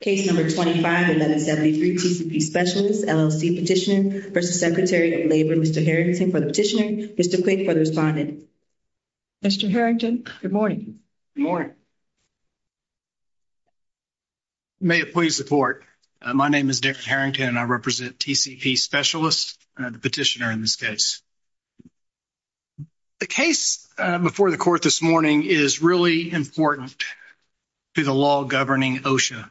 Case No. 25, 1173, TCP Specialists, LLC Petitioner v. Secretary of Labor. Mr. Harrington for the Petitioner. Mr. Quick for the Respondent. Mr. Harrington, good morning. Good morning. May it please the Court. My name is Dick Harrington and I represent TCP Specialists, the Petitioner in this case. The case before the Court this morning is really important to the law governing OSHA.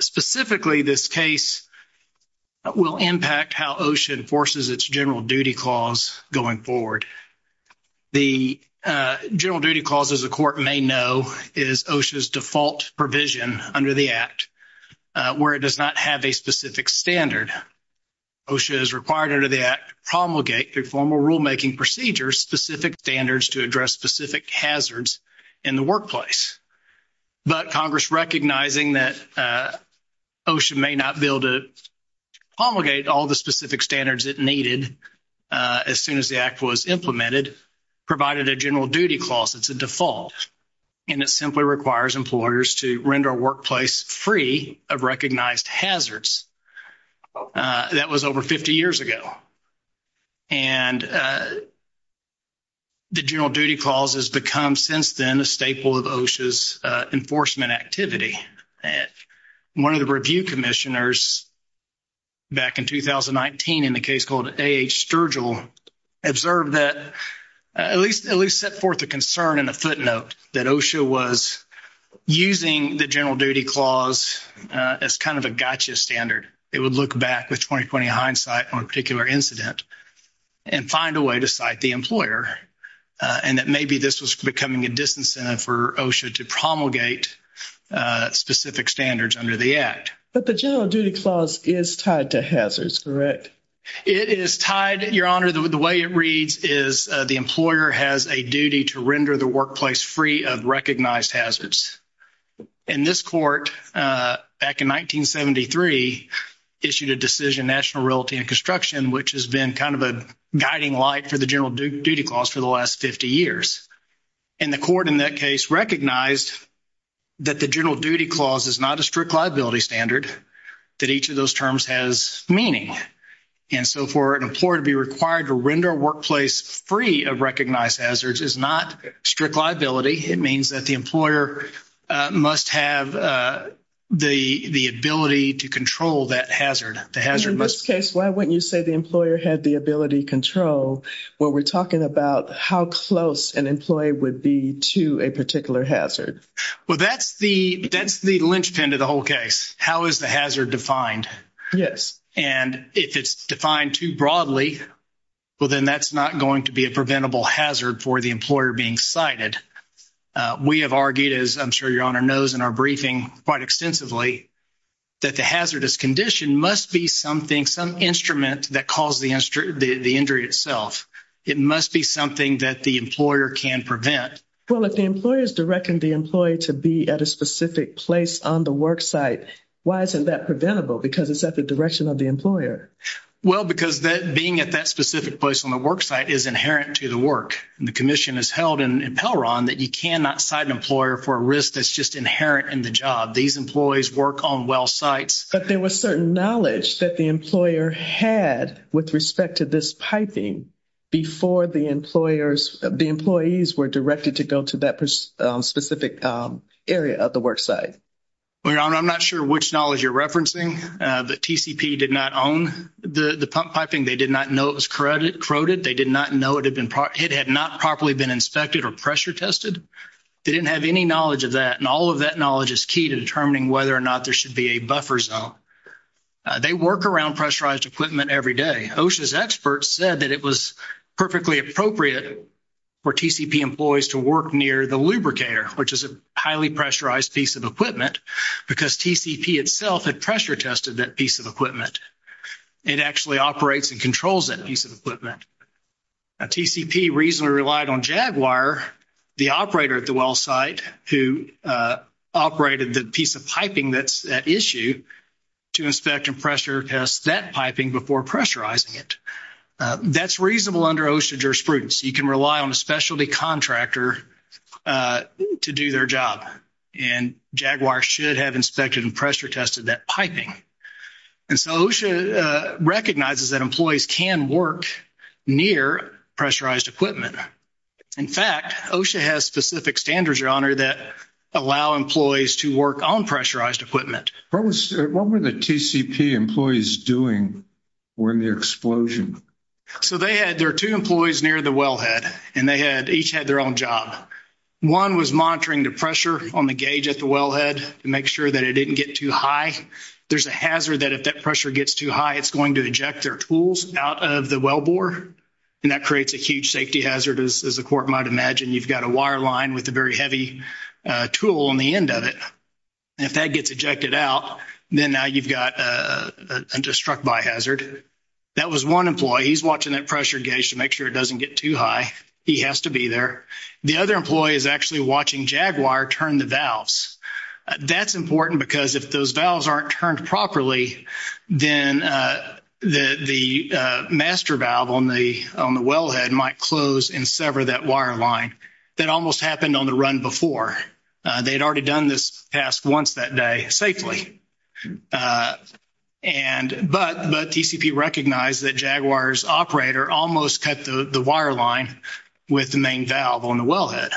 Specifically, this case will impact how OSHA enforces its General Duty Clause going forward. The General Duty Clause, as the Court may know, is OSHA's default provision under the Act where it does not have a specific standard. OSHA is required under the Act to promulgate through formal rulemaking procedures specific standards to address specific hazards in the workplace. But Congress recognizing that OSHA may not be able to promulgate all the specific standards it needed as soon as the Act was implemented, provided a General Duty Clause that's a default, and it simply requires employers to render a workplace free of recognized hazards. That was over 50 years ago. And the General Duty Clause has become since then a staple of OSHA's enforcement activity. One of the review commissioners back in 2019 in the case called A.H. Sturgill observed that, at least set forth a concern and a footnote that OSHA was using the General Duty Clause as kind of a gotcha standard. It would look back with 20-20 hindsight on a particular incident and find a way to cite the employer, and that maybe this was becoming a disincentive for OSHA to promulgate specific standards under the Act. But the General Duty Clause is tied to hazards, correct? It is tied, Your Honor. The way it reads is the employer has a duty to render the workplace free of recognized hazards. And this court, back in 1973, issued a decision, National Realty and Construction, which has been kind of a guiding light for the General Duty Clause for the last 50 years. And the court in that case recognized that the General Duty Clause is not a strict liability standard, that each of those terms has meaning. And so for an employer to be required to render a workplace free of recognized hazards is not strict liability. It means that the employer must have the ability to control that hazard. In this case, why wouldn't you say the employer had the ability to control, when we're talking about how close an employee would be to a particular hazard? Well, that's the linchpin to the whole case. How is the hazard defined? And if it's defined too broadly, well, then that's not going to be a preventable hazard for the employer being cited. We have argued, as I'm sure Your Honor knows in our briefing quite extensively, that the hazardous condition must be something, some instrument that caused the injury itself. It must be something that the employer can prevent. Well, if the employer is directing the employee to be at a specific place on the work site, why isn't that preventable? Because it's at the direction of the employer. Well, because being at that specific place on the work site is inherent to the work. And the commission has held in Pelron that you cannot cite an employer for a risk that's just inherent in the job. These employees work on well sites. But there was certain knowledge that the employer had with respect to this piping before the employees were directed to go to that specific area of the work site. Well, Your Honor, I'm not sure which knowledge you're referencing, but TCP did not own the pump piping. They did not know it was corroded. They did not know it had not properly been inspected or pressure tested. They didn't have any knowledge of that. And all of that knowledge is key to determining whether or not there should be a buffer zone. They work around pressurized equipment every day. OSHA's experts said that it was perfectly appropriate for TCP employees to work near the lubricator, which is a highly pressurized piece of equipment, because TCP itself had pressure tested that piece of equipment. It actually operates and controls that piece of equipment. Now, TCP reasonably relied on Jaguar, the operator at the well site, who operated the piece of piping that's at issue, to inspect and pressure test that piping before pressurizing it. That's reasonable under OSHA jurisprudence. You can rely on a specialty contractor to do their job, and Jaguar should have inspected and pressure tested that piping. And so OSHA recognizes that employees can work near pressurized equipment. In fact, OSHA has specific standards, Your Honor, that allow employees to work on pressurized equipment. What were the TCP employees doing during the explosion? So they had their two employees near the wellhead, and they each had their own job. One was monitoring the pressure on the gauge at the wellhead to make sure that it didn't get too high. There's a hazard that if that pressure gets too high, it's going to eject their tools out of the wellbore, and that creates a huge safety hazard, as the Court might imagine. You've got a wire line with a very heavy tool on the end of it. If that gets ejected out, then now you've got a destruct by hazard. That was one employee. He's watching that pressure gauge to make sure it doesn't get too high. He has to be there. The other employee is actually watching Jaguar turn the valves. That's important because if those valves aren't turned properly, then the master valve on the wellhead might close and sever that wire line. That almost happened on the run before. They had already done this task once that day safely. But TCP recognized that Jaguar's operator almost cut the wire line with the main valve on the wellhead.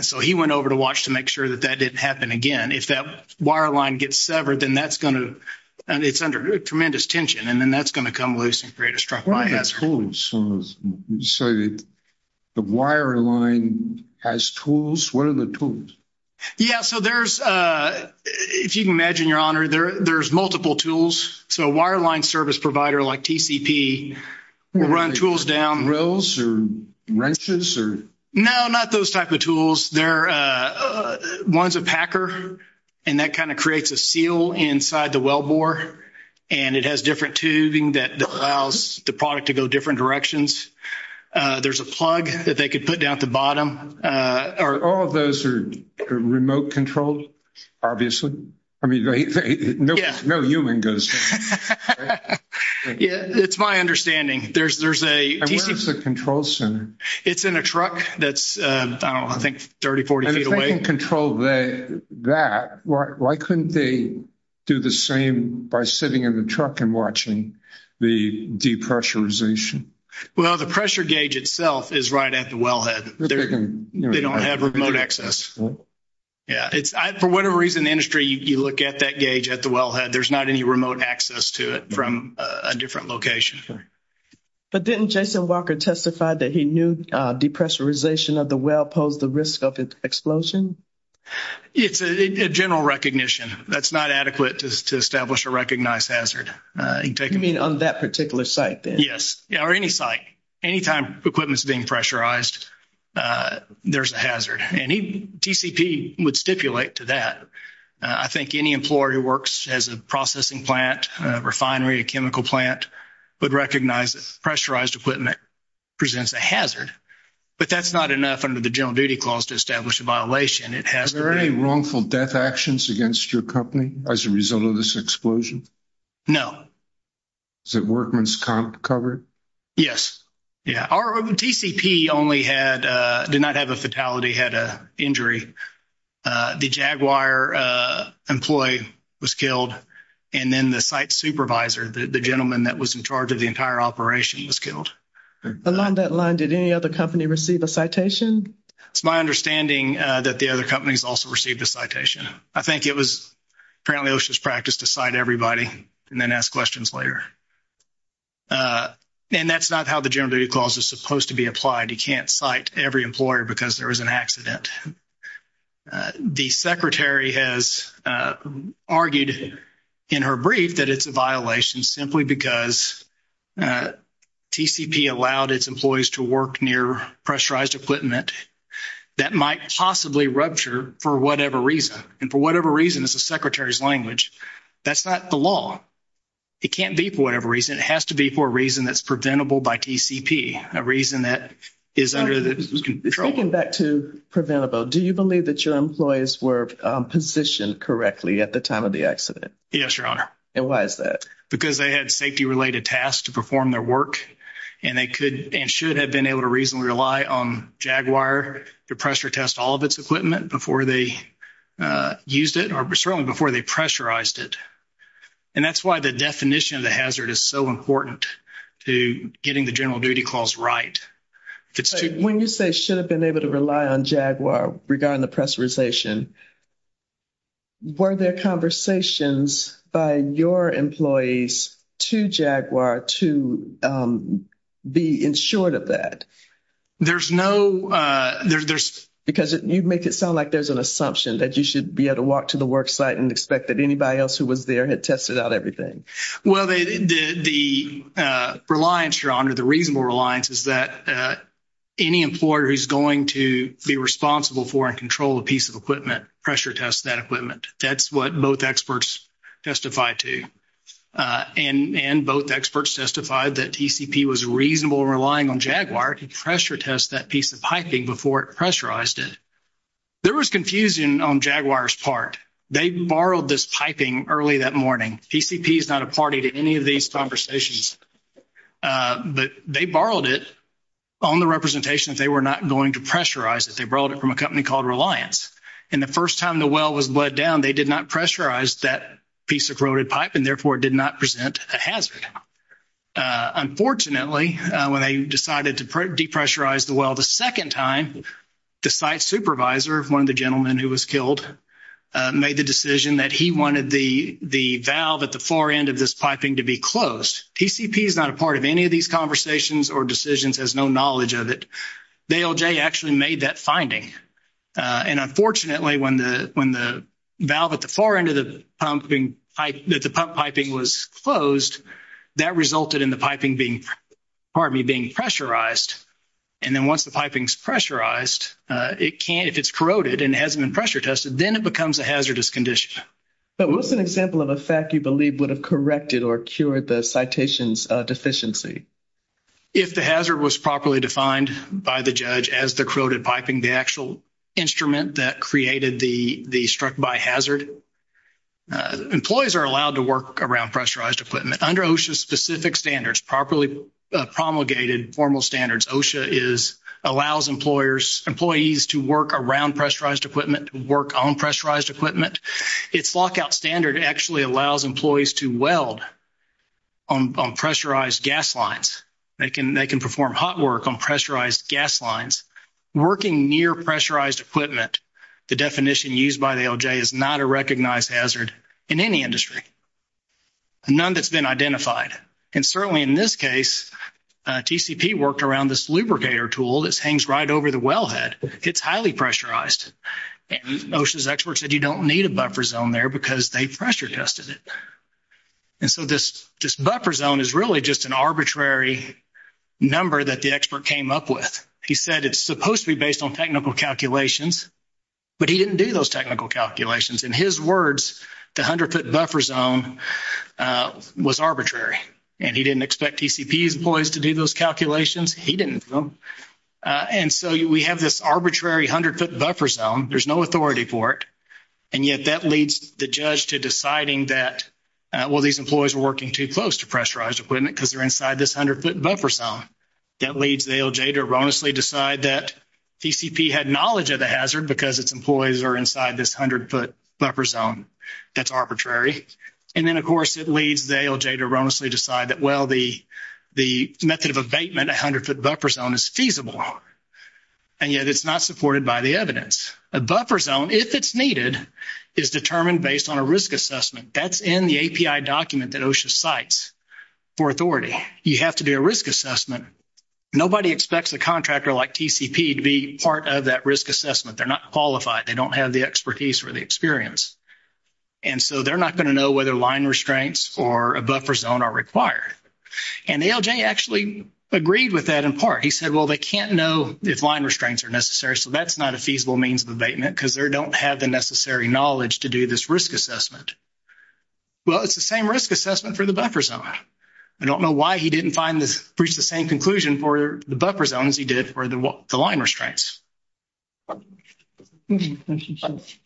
So he went over to watch to make sure that that didn't happen again. If that wire line gets severed, then it's under tremendous tension, and then that's going to come loose and create a destruct by hazard. So the wire line has tools. What are the tools? Yeah, so there's, if you can imagine, Your Honor, there's multiple tools. So a wire line service provider like TCP will run tools down. Rills or wrenches? No, not those type of tools. One's a packer, and that kind of creates a seal inside the well bore, and it has different tubing that allows the product to go different directions. There's a plug that they could put down at the bottom. All of those are remote controlled, obviously? I mean, no human goes there, right? Yeah, it's my understanding. And where's the control center? It's in a truck that's, I don't know, I think 30, 40 feet away. If they can control that, why couldn't they do the same by sitting in the truck and watching the depressurization? Well, the pressure gauge itself is right at the wellhead. They don't have remote access. Yeah, for whatever reason, the industry, you look at that gauge at the wellhead, there's not any remote access to it from a different location. But didn't Jason Walker testify that he knew depressurization of the well posed a risk of an explosion? It's a general recognition. That's not adequate to establish a recognized hazard. You mean on that particular site then? Yes, or any site. Anytime equipment's being pressurized, there's a hazard. And TCP would stipulate to that. I think any employer who works as a processing plant, a refinery, a chemical plant, would recognize that pressurized equipment presents a hazard. But that's not enough under the General Duty Clause to establish a violation. Is there any wrongful death actions against your company as a result of this explosion? No. Is it workman's comp covered? Yes. Our TCP only did not have a fatality, had an injury. The Jaguar employee was killed, and then the site supervisor, the gentleman that was in charge of the entire operation, was killed. Along that line, did any other company receive a citation? It's my understanding that the other companies also received a citation. I think it was apparently OSHA's practice to cite everybody and then ask questions later. And that's not how the General Duty Clause is supposed to be applied. You can't cite every employer because there was an accident. The secretary has argued in her brief that it's a violation simply because TCP allowed its employees to work near pressurized equipment that might possibly rupture for whatever reason. And for whatever reason, it's the secretary's language. That's not the law. It can't be for whatever reason. It has to be for a reason that's preventable by TCP, a reason that is under the control. Taking back to preventable, do you believe that your employees were positioned correctly at the time of the accident? Yes, Your Honor. And why is that? Because they had safety-related tasks to perform their work, and they could and should have been able to reasonably rely on Jaguar to pressure test all of its equipment before they used it, or certainly before they pressurized it. And that's why the definition of the hazard is so important to getting the General Duty Clause right. When you say should have been able to rely on Jaguar regarding the pressurization, were there conversations by your employees to Jaguar to be insured of that? There's no – Because you make it sound like there's an assumption that you should be able to walk to the work site and expect that anybody else who was there had tested out everything. Well, the reliance, Your Honor, the reasonable reliance is that any employer who's going to be responsible for and control a piece of equipment pressure tests that equipment. That's what both experts testified to. And both experts testified that TCP was reasonable in relying on Jaguar to pressure test that piece of piping before it pressurized it. There was confusion on Jaguar's part. They borrowed this piping early that morning. TCP is not a party to any of these conversations. But they borrowed it on the representation that they were not going to pressurize it. They borrowed it from a company called Reliance. And the first time the well was bled down, they did not pressurize that piece of corroded pipe and therefore did not present a hazard. Unfortunately, when they decided to depressurize the well the second time, the site supervisor, one of the gentlemen who was killed, made the decision that he wanted the valve at the far end of this piping to be closed. TCP is not a part of any of these conversations or decisions has no knowledge of it. Vailjay actually made that finding. And unfortunately, when the valve at the far end of the pump piping was closed, that resulted in the piping being pressurized. And then once the piping is pressurized, it can't, if it's corroded and hasn't been pressure tested, then it becomes a hazardous condition. But what's an example of a fact you believe would have corrected or cured the citation's deficiency? If the hazard was properly defined by the judge as the corroded piping, the actual instrument that created the struck-by hazard, employees are allowed to work around pressurized equipment. Under OSHA's specific standards, properly promulgated formal standards, OSHA allows employees to work around pressurized equipment, to work on pressurized equipment. Its lockout standard actually allows employees to weld on pressurized gas lines. They can perform hot work on pressurized gas lines. Working near pressurized equipment, the definition used by Vailjay, is not a recognized hazard in any industry, none that's been identified. And certainly in this case, TCP worked around this lubricator tool that hangs right over the wellhead. It's highly pressurized. And OSHA's experts said you don't need a buffer zone there because they pressure tested it. And so this buffer zone is really just an arbitrary number that the expert came up with. He said it's supposed to be based on technical calculations, but he didn't do those technical calculations. In his words, the 100-foot buffer zone was arbitrary. And he didn't expect TCP's employees to do those calculations. He didn't do them. And so we have this arbitrary 100-foot buffer zone. There's no authority for it. And yet that leads the judge to deciding that, well, these employees are working too close to pressurized equipment because they're inside this 100-foot buffer zone. That leads Vailjay to erroneously decide that TCP had knowledge of the hazard because its employees are inside this 100-foot buffer zone that's arbitrary. And then, of course, it leads Vailjay to erroneously decide that, well, the method of abatement, a 100-foot buffer zone, is feasible. And yet it's not supported by the evidence. A buffer zone, if it's needed, is determined based on a risk assessment. That's in the API document that OSHA cites for authority. You have to do a risk assessment. Nobody expects a contractor like TCP to be part of that risk assessment. They're not qualified. They don't have the expertise or the experience. And so they're not going to know whether line restraints or a buffer zone are required. And Vailjay actually agreed with that in part. He said, well, they can't know if line restraints are necessary, so that's not a feasible means of abatement because they don't have the necessary knowledge to do this risk assessment. Well, it's the same risk assessment for the buffer zone. I don't know why he didn't reach the same conclusion for the buffer zones he did for the line restraints. Thank you. Mr. Quick.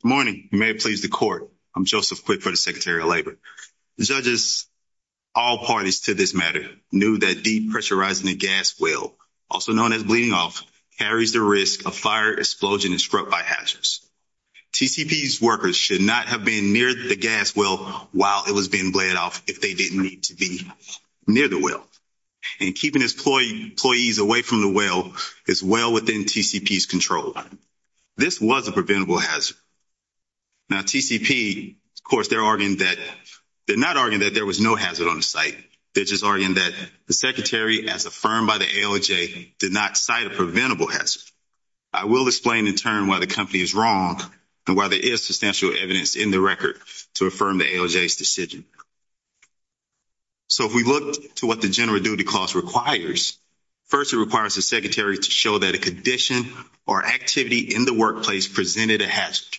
Good morning. You may please the court. I'm Joseph Quick for the Secretary of Labor. The judges, all parties to this matter, knew that depressurizing a gas well, also known as bleeding off, carries the risk of fire, explosion, and struck by hazards. TCP's workers should not have been near the gas well while it was being bled off if they didn't need to be near the well. And keeping employees away from the well is well within TCP's control. This was a preventable hazard. Now, TCP, of course, they're not arguing that there was no hazard on the site. They're just arguing that the Secretary, as affirmed by the ALJ, did not cite a preventable hazard. I will explain, in turn, why the company is wrong and why there is substantial evidence in the record to affirm the ALJ's decision. So if we look to what the general duty clause requires, first it requires the Secretary to show that a condition or activity in the workplace presented a hazard.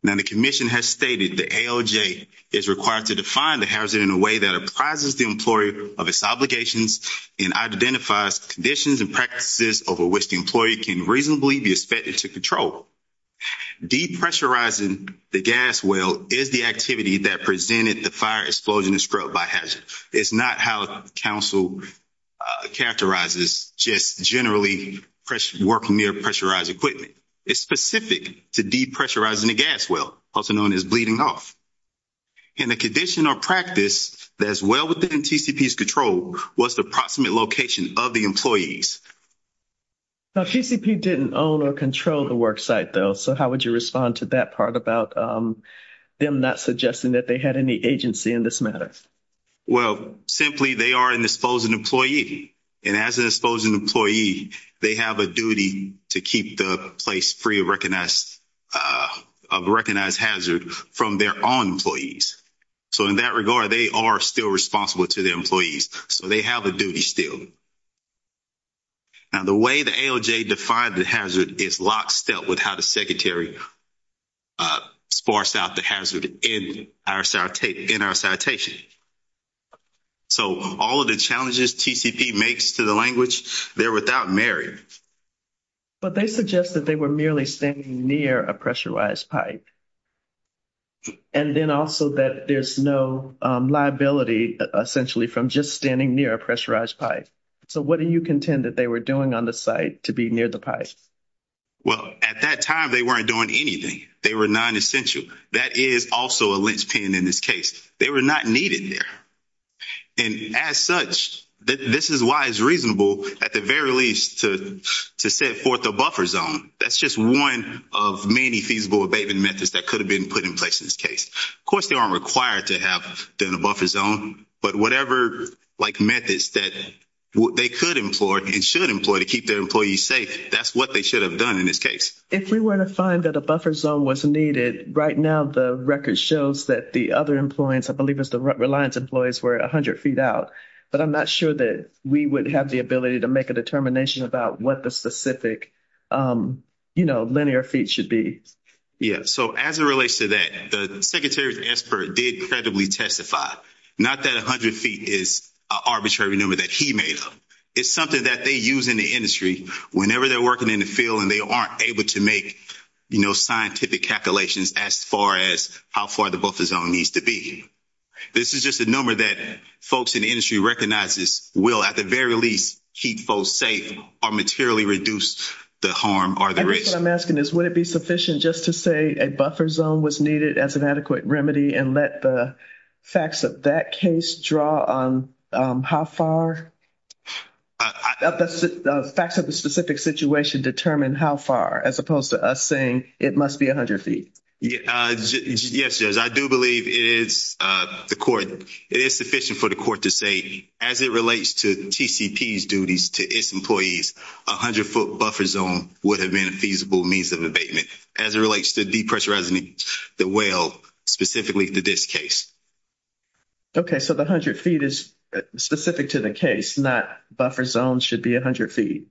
Now, the commission has stated the ALJ is required to define the hazard in a way that apprises the employee of its obligations and identifies conditions and practices over which the employee can reasonably be expected to control. Depressurizing the gas well is the activity that presented the fire, explosion, and struck by hazard. It's not how counsel characterizes just generally working near pressurized equipment. It's specific to depressurizing the gas well, also known as bleeding off. And the condition or practice that is well within TCP's control was the approximate location of the employees. Now, TCP didn't own or control the worksite, though, so how would you respond to that part about them not suggesting that they had any agency in this matter? Well, simply they are an exposed employee, and as an exposed employee, they have a duty to keep the place free of a recognized hazard from their own employees. So in that regard, they are still responsible to their employees, so they have a duty still. Now, the way the ALJ defined the hazard is lockstep with how the Secretary sparse out the hazard in our citation. So all of the challenges TCP makes to the language, they're without merit. But they suggest that they were merely standing near a pressurized pipe, and then also that there's no liability, essentially, from just standing near a pressurized pipe. So what do you contend that they were doing on the site to be near the pipe? Well, at that time, they weren't doing anything. They were nonessential. That is also a linchpin in this case. They were not needed there. And as such, this is why it's reasonable, at the very least, to set forth a buffer zone. That's just one of many feasible abatement methods that could have been put in place in this case. Of course, they aren't required to have done a buffer zone, but whatever, like, methods that they could employ and should employ to keep their employees safe, that's what they should have done in this case. If we were to find that a buffer zone was needed, right now the record shows that the other employees, I believe it was the Reliance employees, were 100 feet out. But I'm not sure that we would have the ability to make a determination about what the specific, you know, linear feet should be. Yeah, so as it relates to that, the Secretary Esper did credibly testify. Not that 100 feet is an arbitrary number that he made up. It's something that they use in the industry whenever they're working in the field and they aren't able to make, you know, scientific calculations as far as how far the buffer zone needs to be. This is just a number that folks in the industry recognizes will, at the very least, keep folks safe or materially reduce the harm or the risk. I guess what I'm asking is would it be sufficient just to say a buffer zone was needed as an adequate remedy and let the facts of that case draw on how far the facts of the specific situation determine how far, as opposed to us saying it must be 100 feet? Yes, Judge, I do believe it is the court. It is sufficient for the court to say as it relates to TCP's duties to its employees, a 100-foot buffer zone would have been a feasible means of abatement. As it relates to depressurizing the well, specifically to this case. Okay, so the 100 feet is specific to the case and that buffer zone should be 100 feet.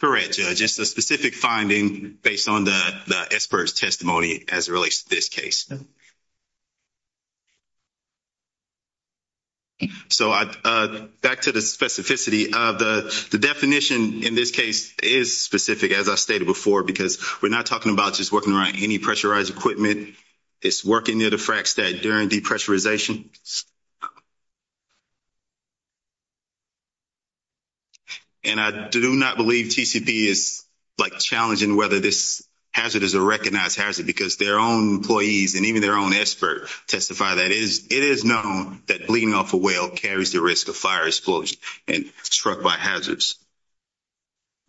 Correct, Judge. It's a specific finding based on the Esper's testimony as it relates to this case. So back to the specificity of the definition in this case is specific, as I stated before, because we're not talking about just working around any pressurized equipment. It's working near the frac stat during depressurization. And I do not believe TCP is, like, challenging whether this hazard is a recognized hazard because their own employees and even their own expert testify that it is known that bleeding off a well carries the risk of fire explosion and struck by hazards.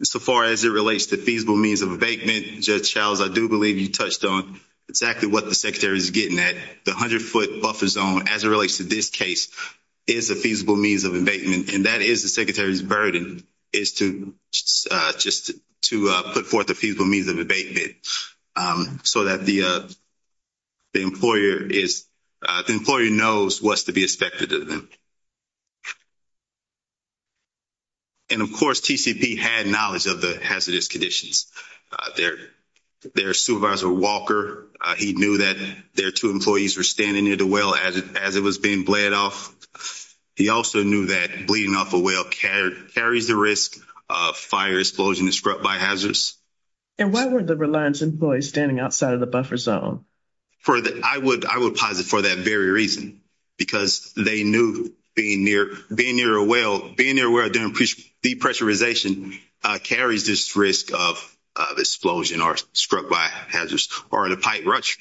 So far as it relates to feasible means of abatement, Judge Charles, I do believe you touched on exactly what the Secretary is getting at. The 100-foot buffer zone, as it relates to this case, is a feasible means of abatement, and that is the Secretary's burden is to put forth a feasible means of abatement so that the employer knows what's to be expected of them. And, of course, TCP had knowledge of the hazardous conditions. Their supervisor, Walker, he knew that their two employees were standing near the well as it was being bled off. He also knew that bleeding off a well carries the risk of fire explosion and struck by hazards. And why were the Reliance employees standing outside of the buffer zone? I would posit for that very reason because they knew being near a well, being near a well during depressurization carries this risk of explosion or struck by hazards. Or in a pipe rush,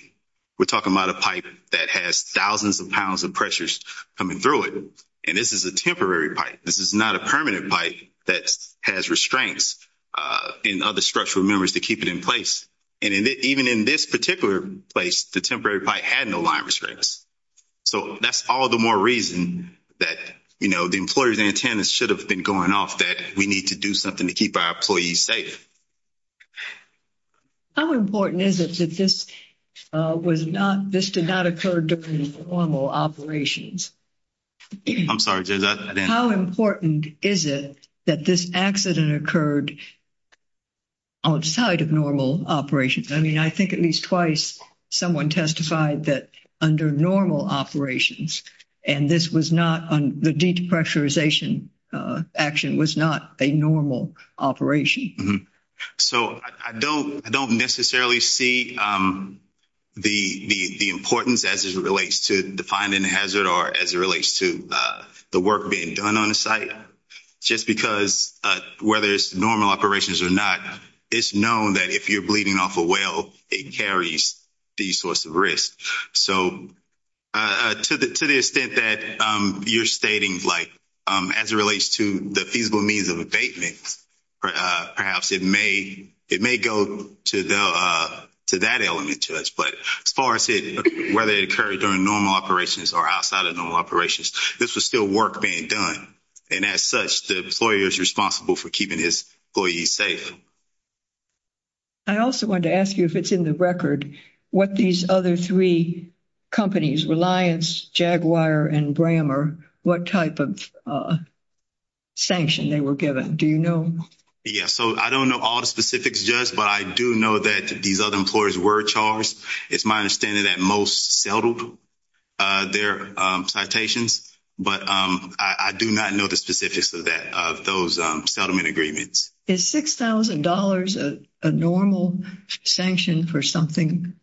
we're talking about a pipe that has thousands of pounds of pressures coming through it, and this is a temporary pipe. This is not a permanent pipe that has restraints and other structural members to keep it in place. And even in this particular place, the temporary pipe had no line restraints. So that's all the more reason that, you know, the employer's antennas should have been going off, that we need to do something to keep our employees safe. How important is it that this did not occur during normal operations? I'm sorry, Jez. How important is it that this accident occurred outside of normal operations? I mean, I think at least twice someone testified that under normal operations, and this was not the depressurization action was not a normal operation. So I don't necessarily see the importance as it relates to defining hazard or as it relates to the work being done on the site. Just because whether it's normal operations or not, it's known that if you're bleeding off a well, it carries these sorts of risks. So to the extent that you're stating, like, as it relates to the feasible means of abatement, perhaps it may go to that element to us. But as far as it, whether it occurred during normal operations or outside of normal operations, this was still work being done. And as such, the employer is responsible for keeping his employees safe. I also wanted to ask you if it's in the record what these other three companies, Reliance, Jaguar, and Brammer, what type of sanction they were given. Do you know? Yeah, so I don't know all the specifics, Jez, but I do know that these other employers were charged. It's my understanding that most settled their citations, but I do not know the specifics of those settlement agreements. Is $6,000 a normal sanction for something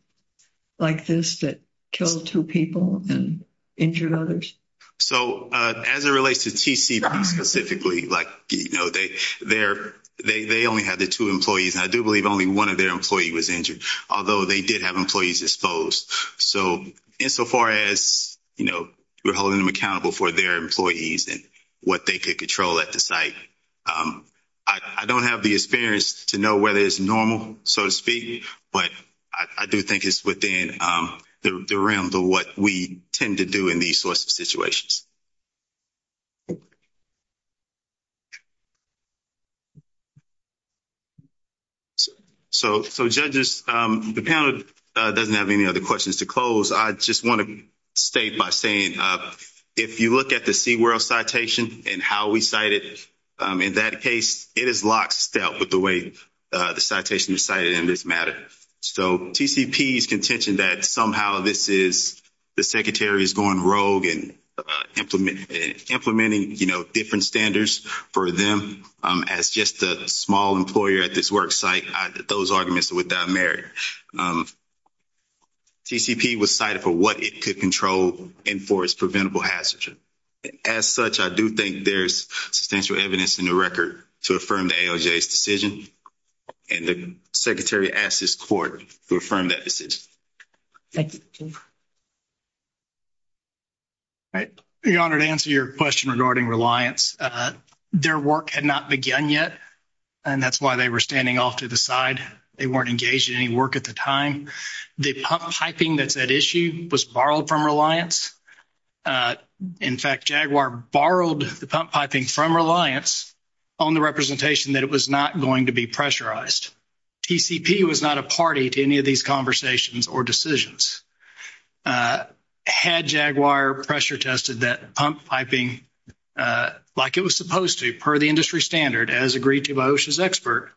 like this that killed two people and injured others? So as it relates to TCP specifically, like, you know, they only had the two employees. I do believe only one of their employees was injured, although they did have employees exposed. So insofar as, you know, we're holding them accountable for their employees and what they could control at the site, I don't have the experience to know whether it's normal, so to speak, but I do think it's within the realm of what we tend to do in these sorts of situations. So, judges, the panel doesn't have any other questions to close. I just want to state by saying if you look at the SeaWorld citation and how we cite it, in that case, it is lockstep with the way the citation is cited in this matter. So TCP's contention that somehow this is the secretary is going rogue and implementing, you know, different standards for them as just a small employer at this work site, those arguments are without merit. TCP was cited for what it could control and for its preventable hazards. As such, I do think there's substantial evidence in the record to affirm the ALJ's decision, and the secretary asks this court to affirm that decision. Thank you. Your Honor, to answer your question regarding Reliance, their work had not begun yet, and that's why they were standing off to the side. They weren't engaged in any work at the time. The pump piping that's at issue was borrowed from Reliance. In fact, Jaguar borrowed the pump piping from Reliance on the representation that it was not going to be pressurized. TCP was not a party to any of these conversations or decisions. Had Jaguar pressure tested that pump piping like it was supposed to per the industry standard, as agreed to by OSHA's expert,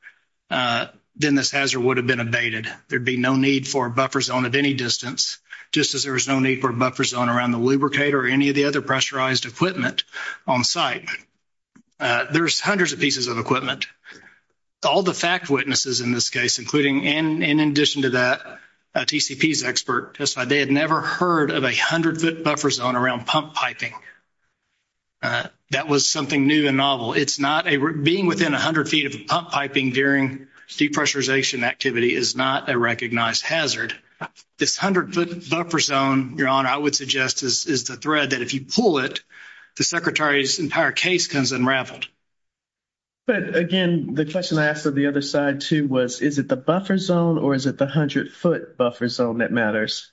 then this hazard would have been abated. There'd be no need for a buffer zone at any distance, just as there was no need for a buffer zone around the lubricator or any of the other pressurized equipment on site. There's hundreds of pieces of equipment. All the fact witnesses in this case, including and in addition to that, TCP's expert, testified they had never heard of a 100-foot buffer zone around pump piping. That was something new and novel. Being within 100 feet of a pump piping during depressurization activity is not a recognized hazard. This 100-foot buffer zone, Your Honor, I would suggest is the thread that if you pull it, the Secretary's entire case comes unraveled. But, again, the question I asked of the other side too was, is it the buffer zone or is it the 100-foot buffer zone that matters?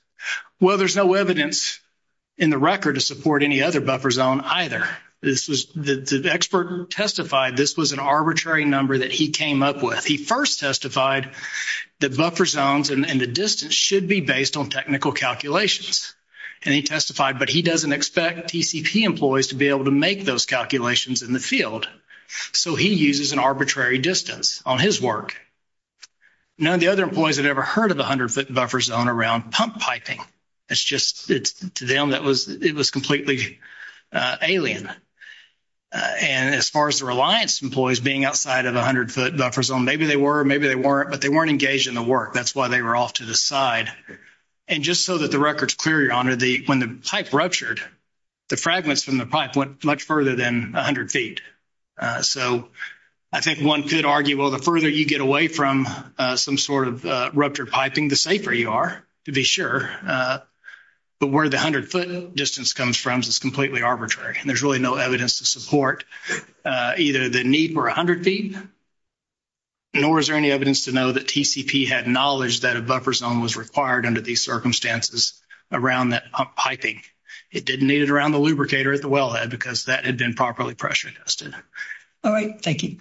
Well, there's no evidence in the record to support any other buffer zone either. The expert testified this was an arbitrary number that he came up with. He first testified that buffer zones and the distance should be based on technical calculations, and he testified, but he doesn't expect TCP employees to be able to make those calculations in the field, so he uses an arbitrary distance on his work. None of the other employees had ever heard of a 100-foot buffer zone around pump piping. It's just, to them, it was completely alien. And as far as the Reliance employees being outside of the 100-foot buffer zone, maybe they were, maybe they weren't, but they weren't engaged in the work. That's why they were off to the side. And just so that the record's clear, Your Honor, when the pipe ruptured, the fragments from the pipe went much further than 100 feet. So I think one could argue, well, the further you get away from some sort of ruptured piping, the safer you are, to be sure. But where the 100-foot distance comes from is completely arbitrary, and there's really no evidence to support either the need for 100 feet, nor is there any evidence to know that TCP had knowledge that a buffer zone was required under these circumstances around that pump piping. It didn't need it around the lubricator at the wellhead because that had been properly pressure tested. All right. Thank you.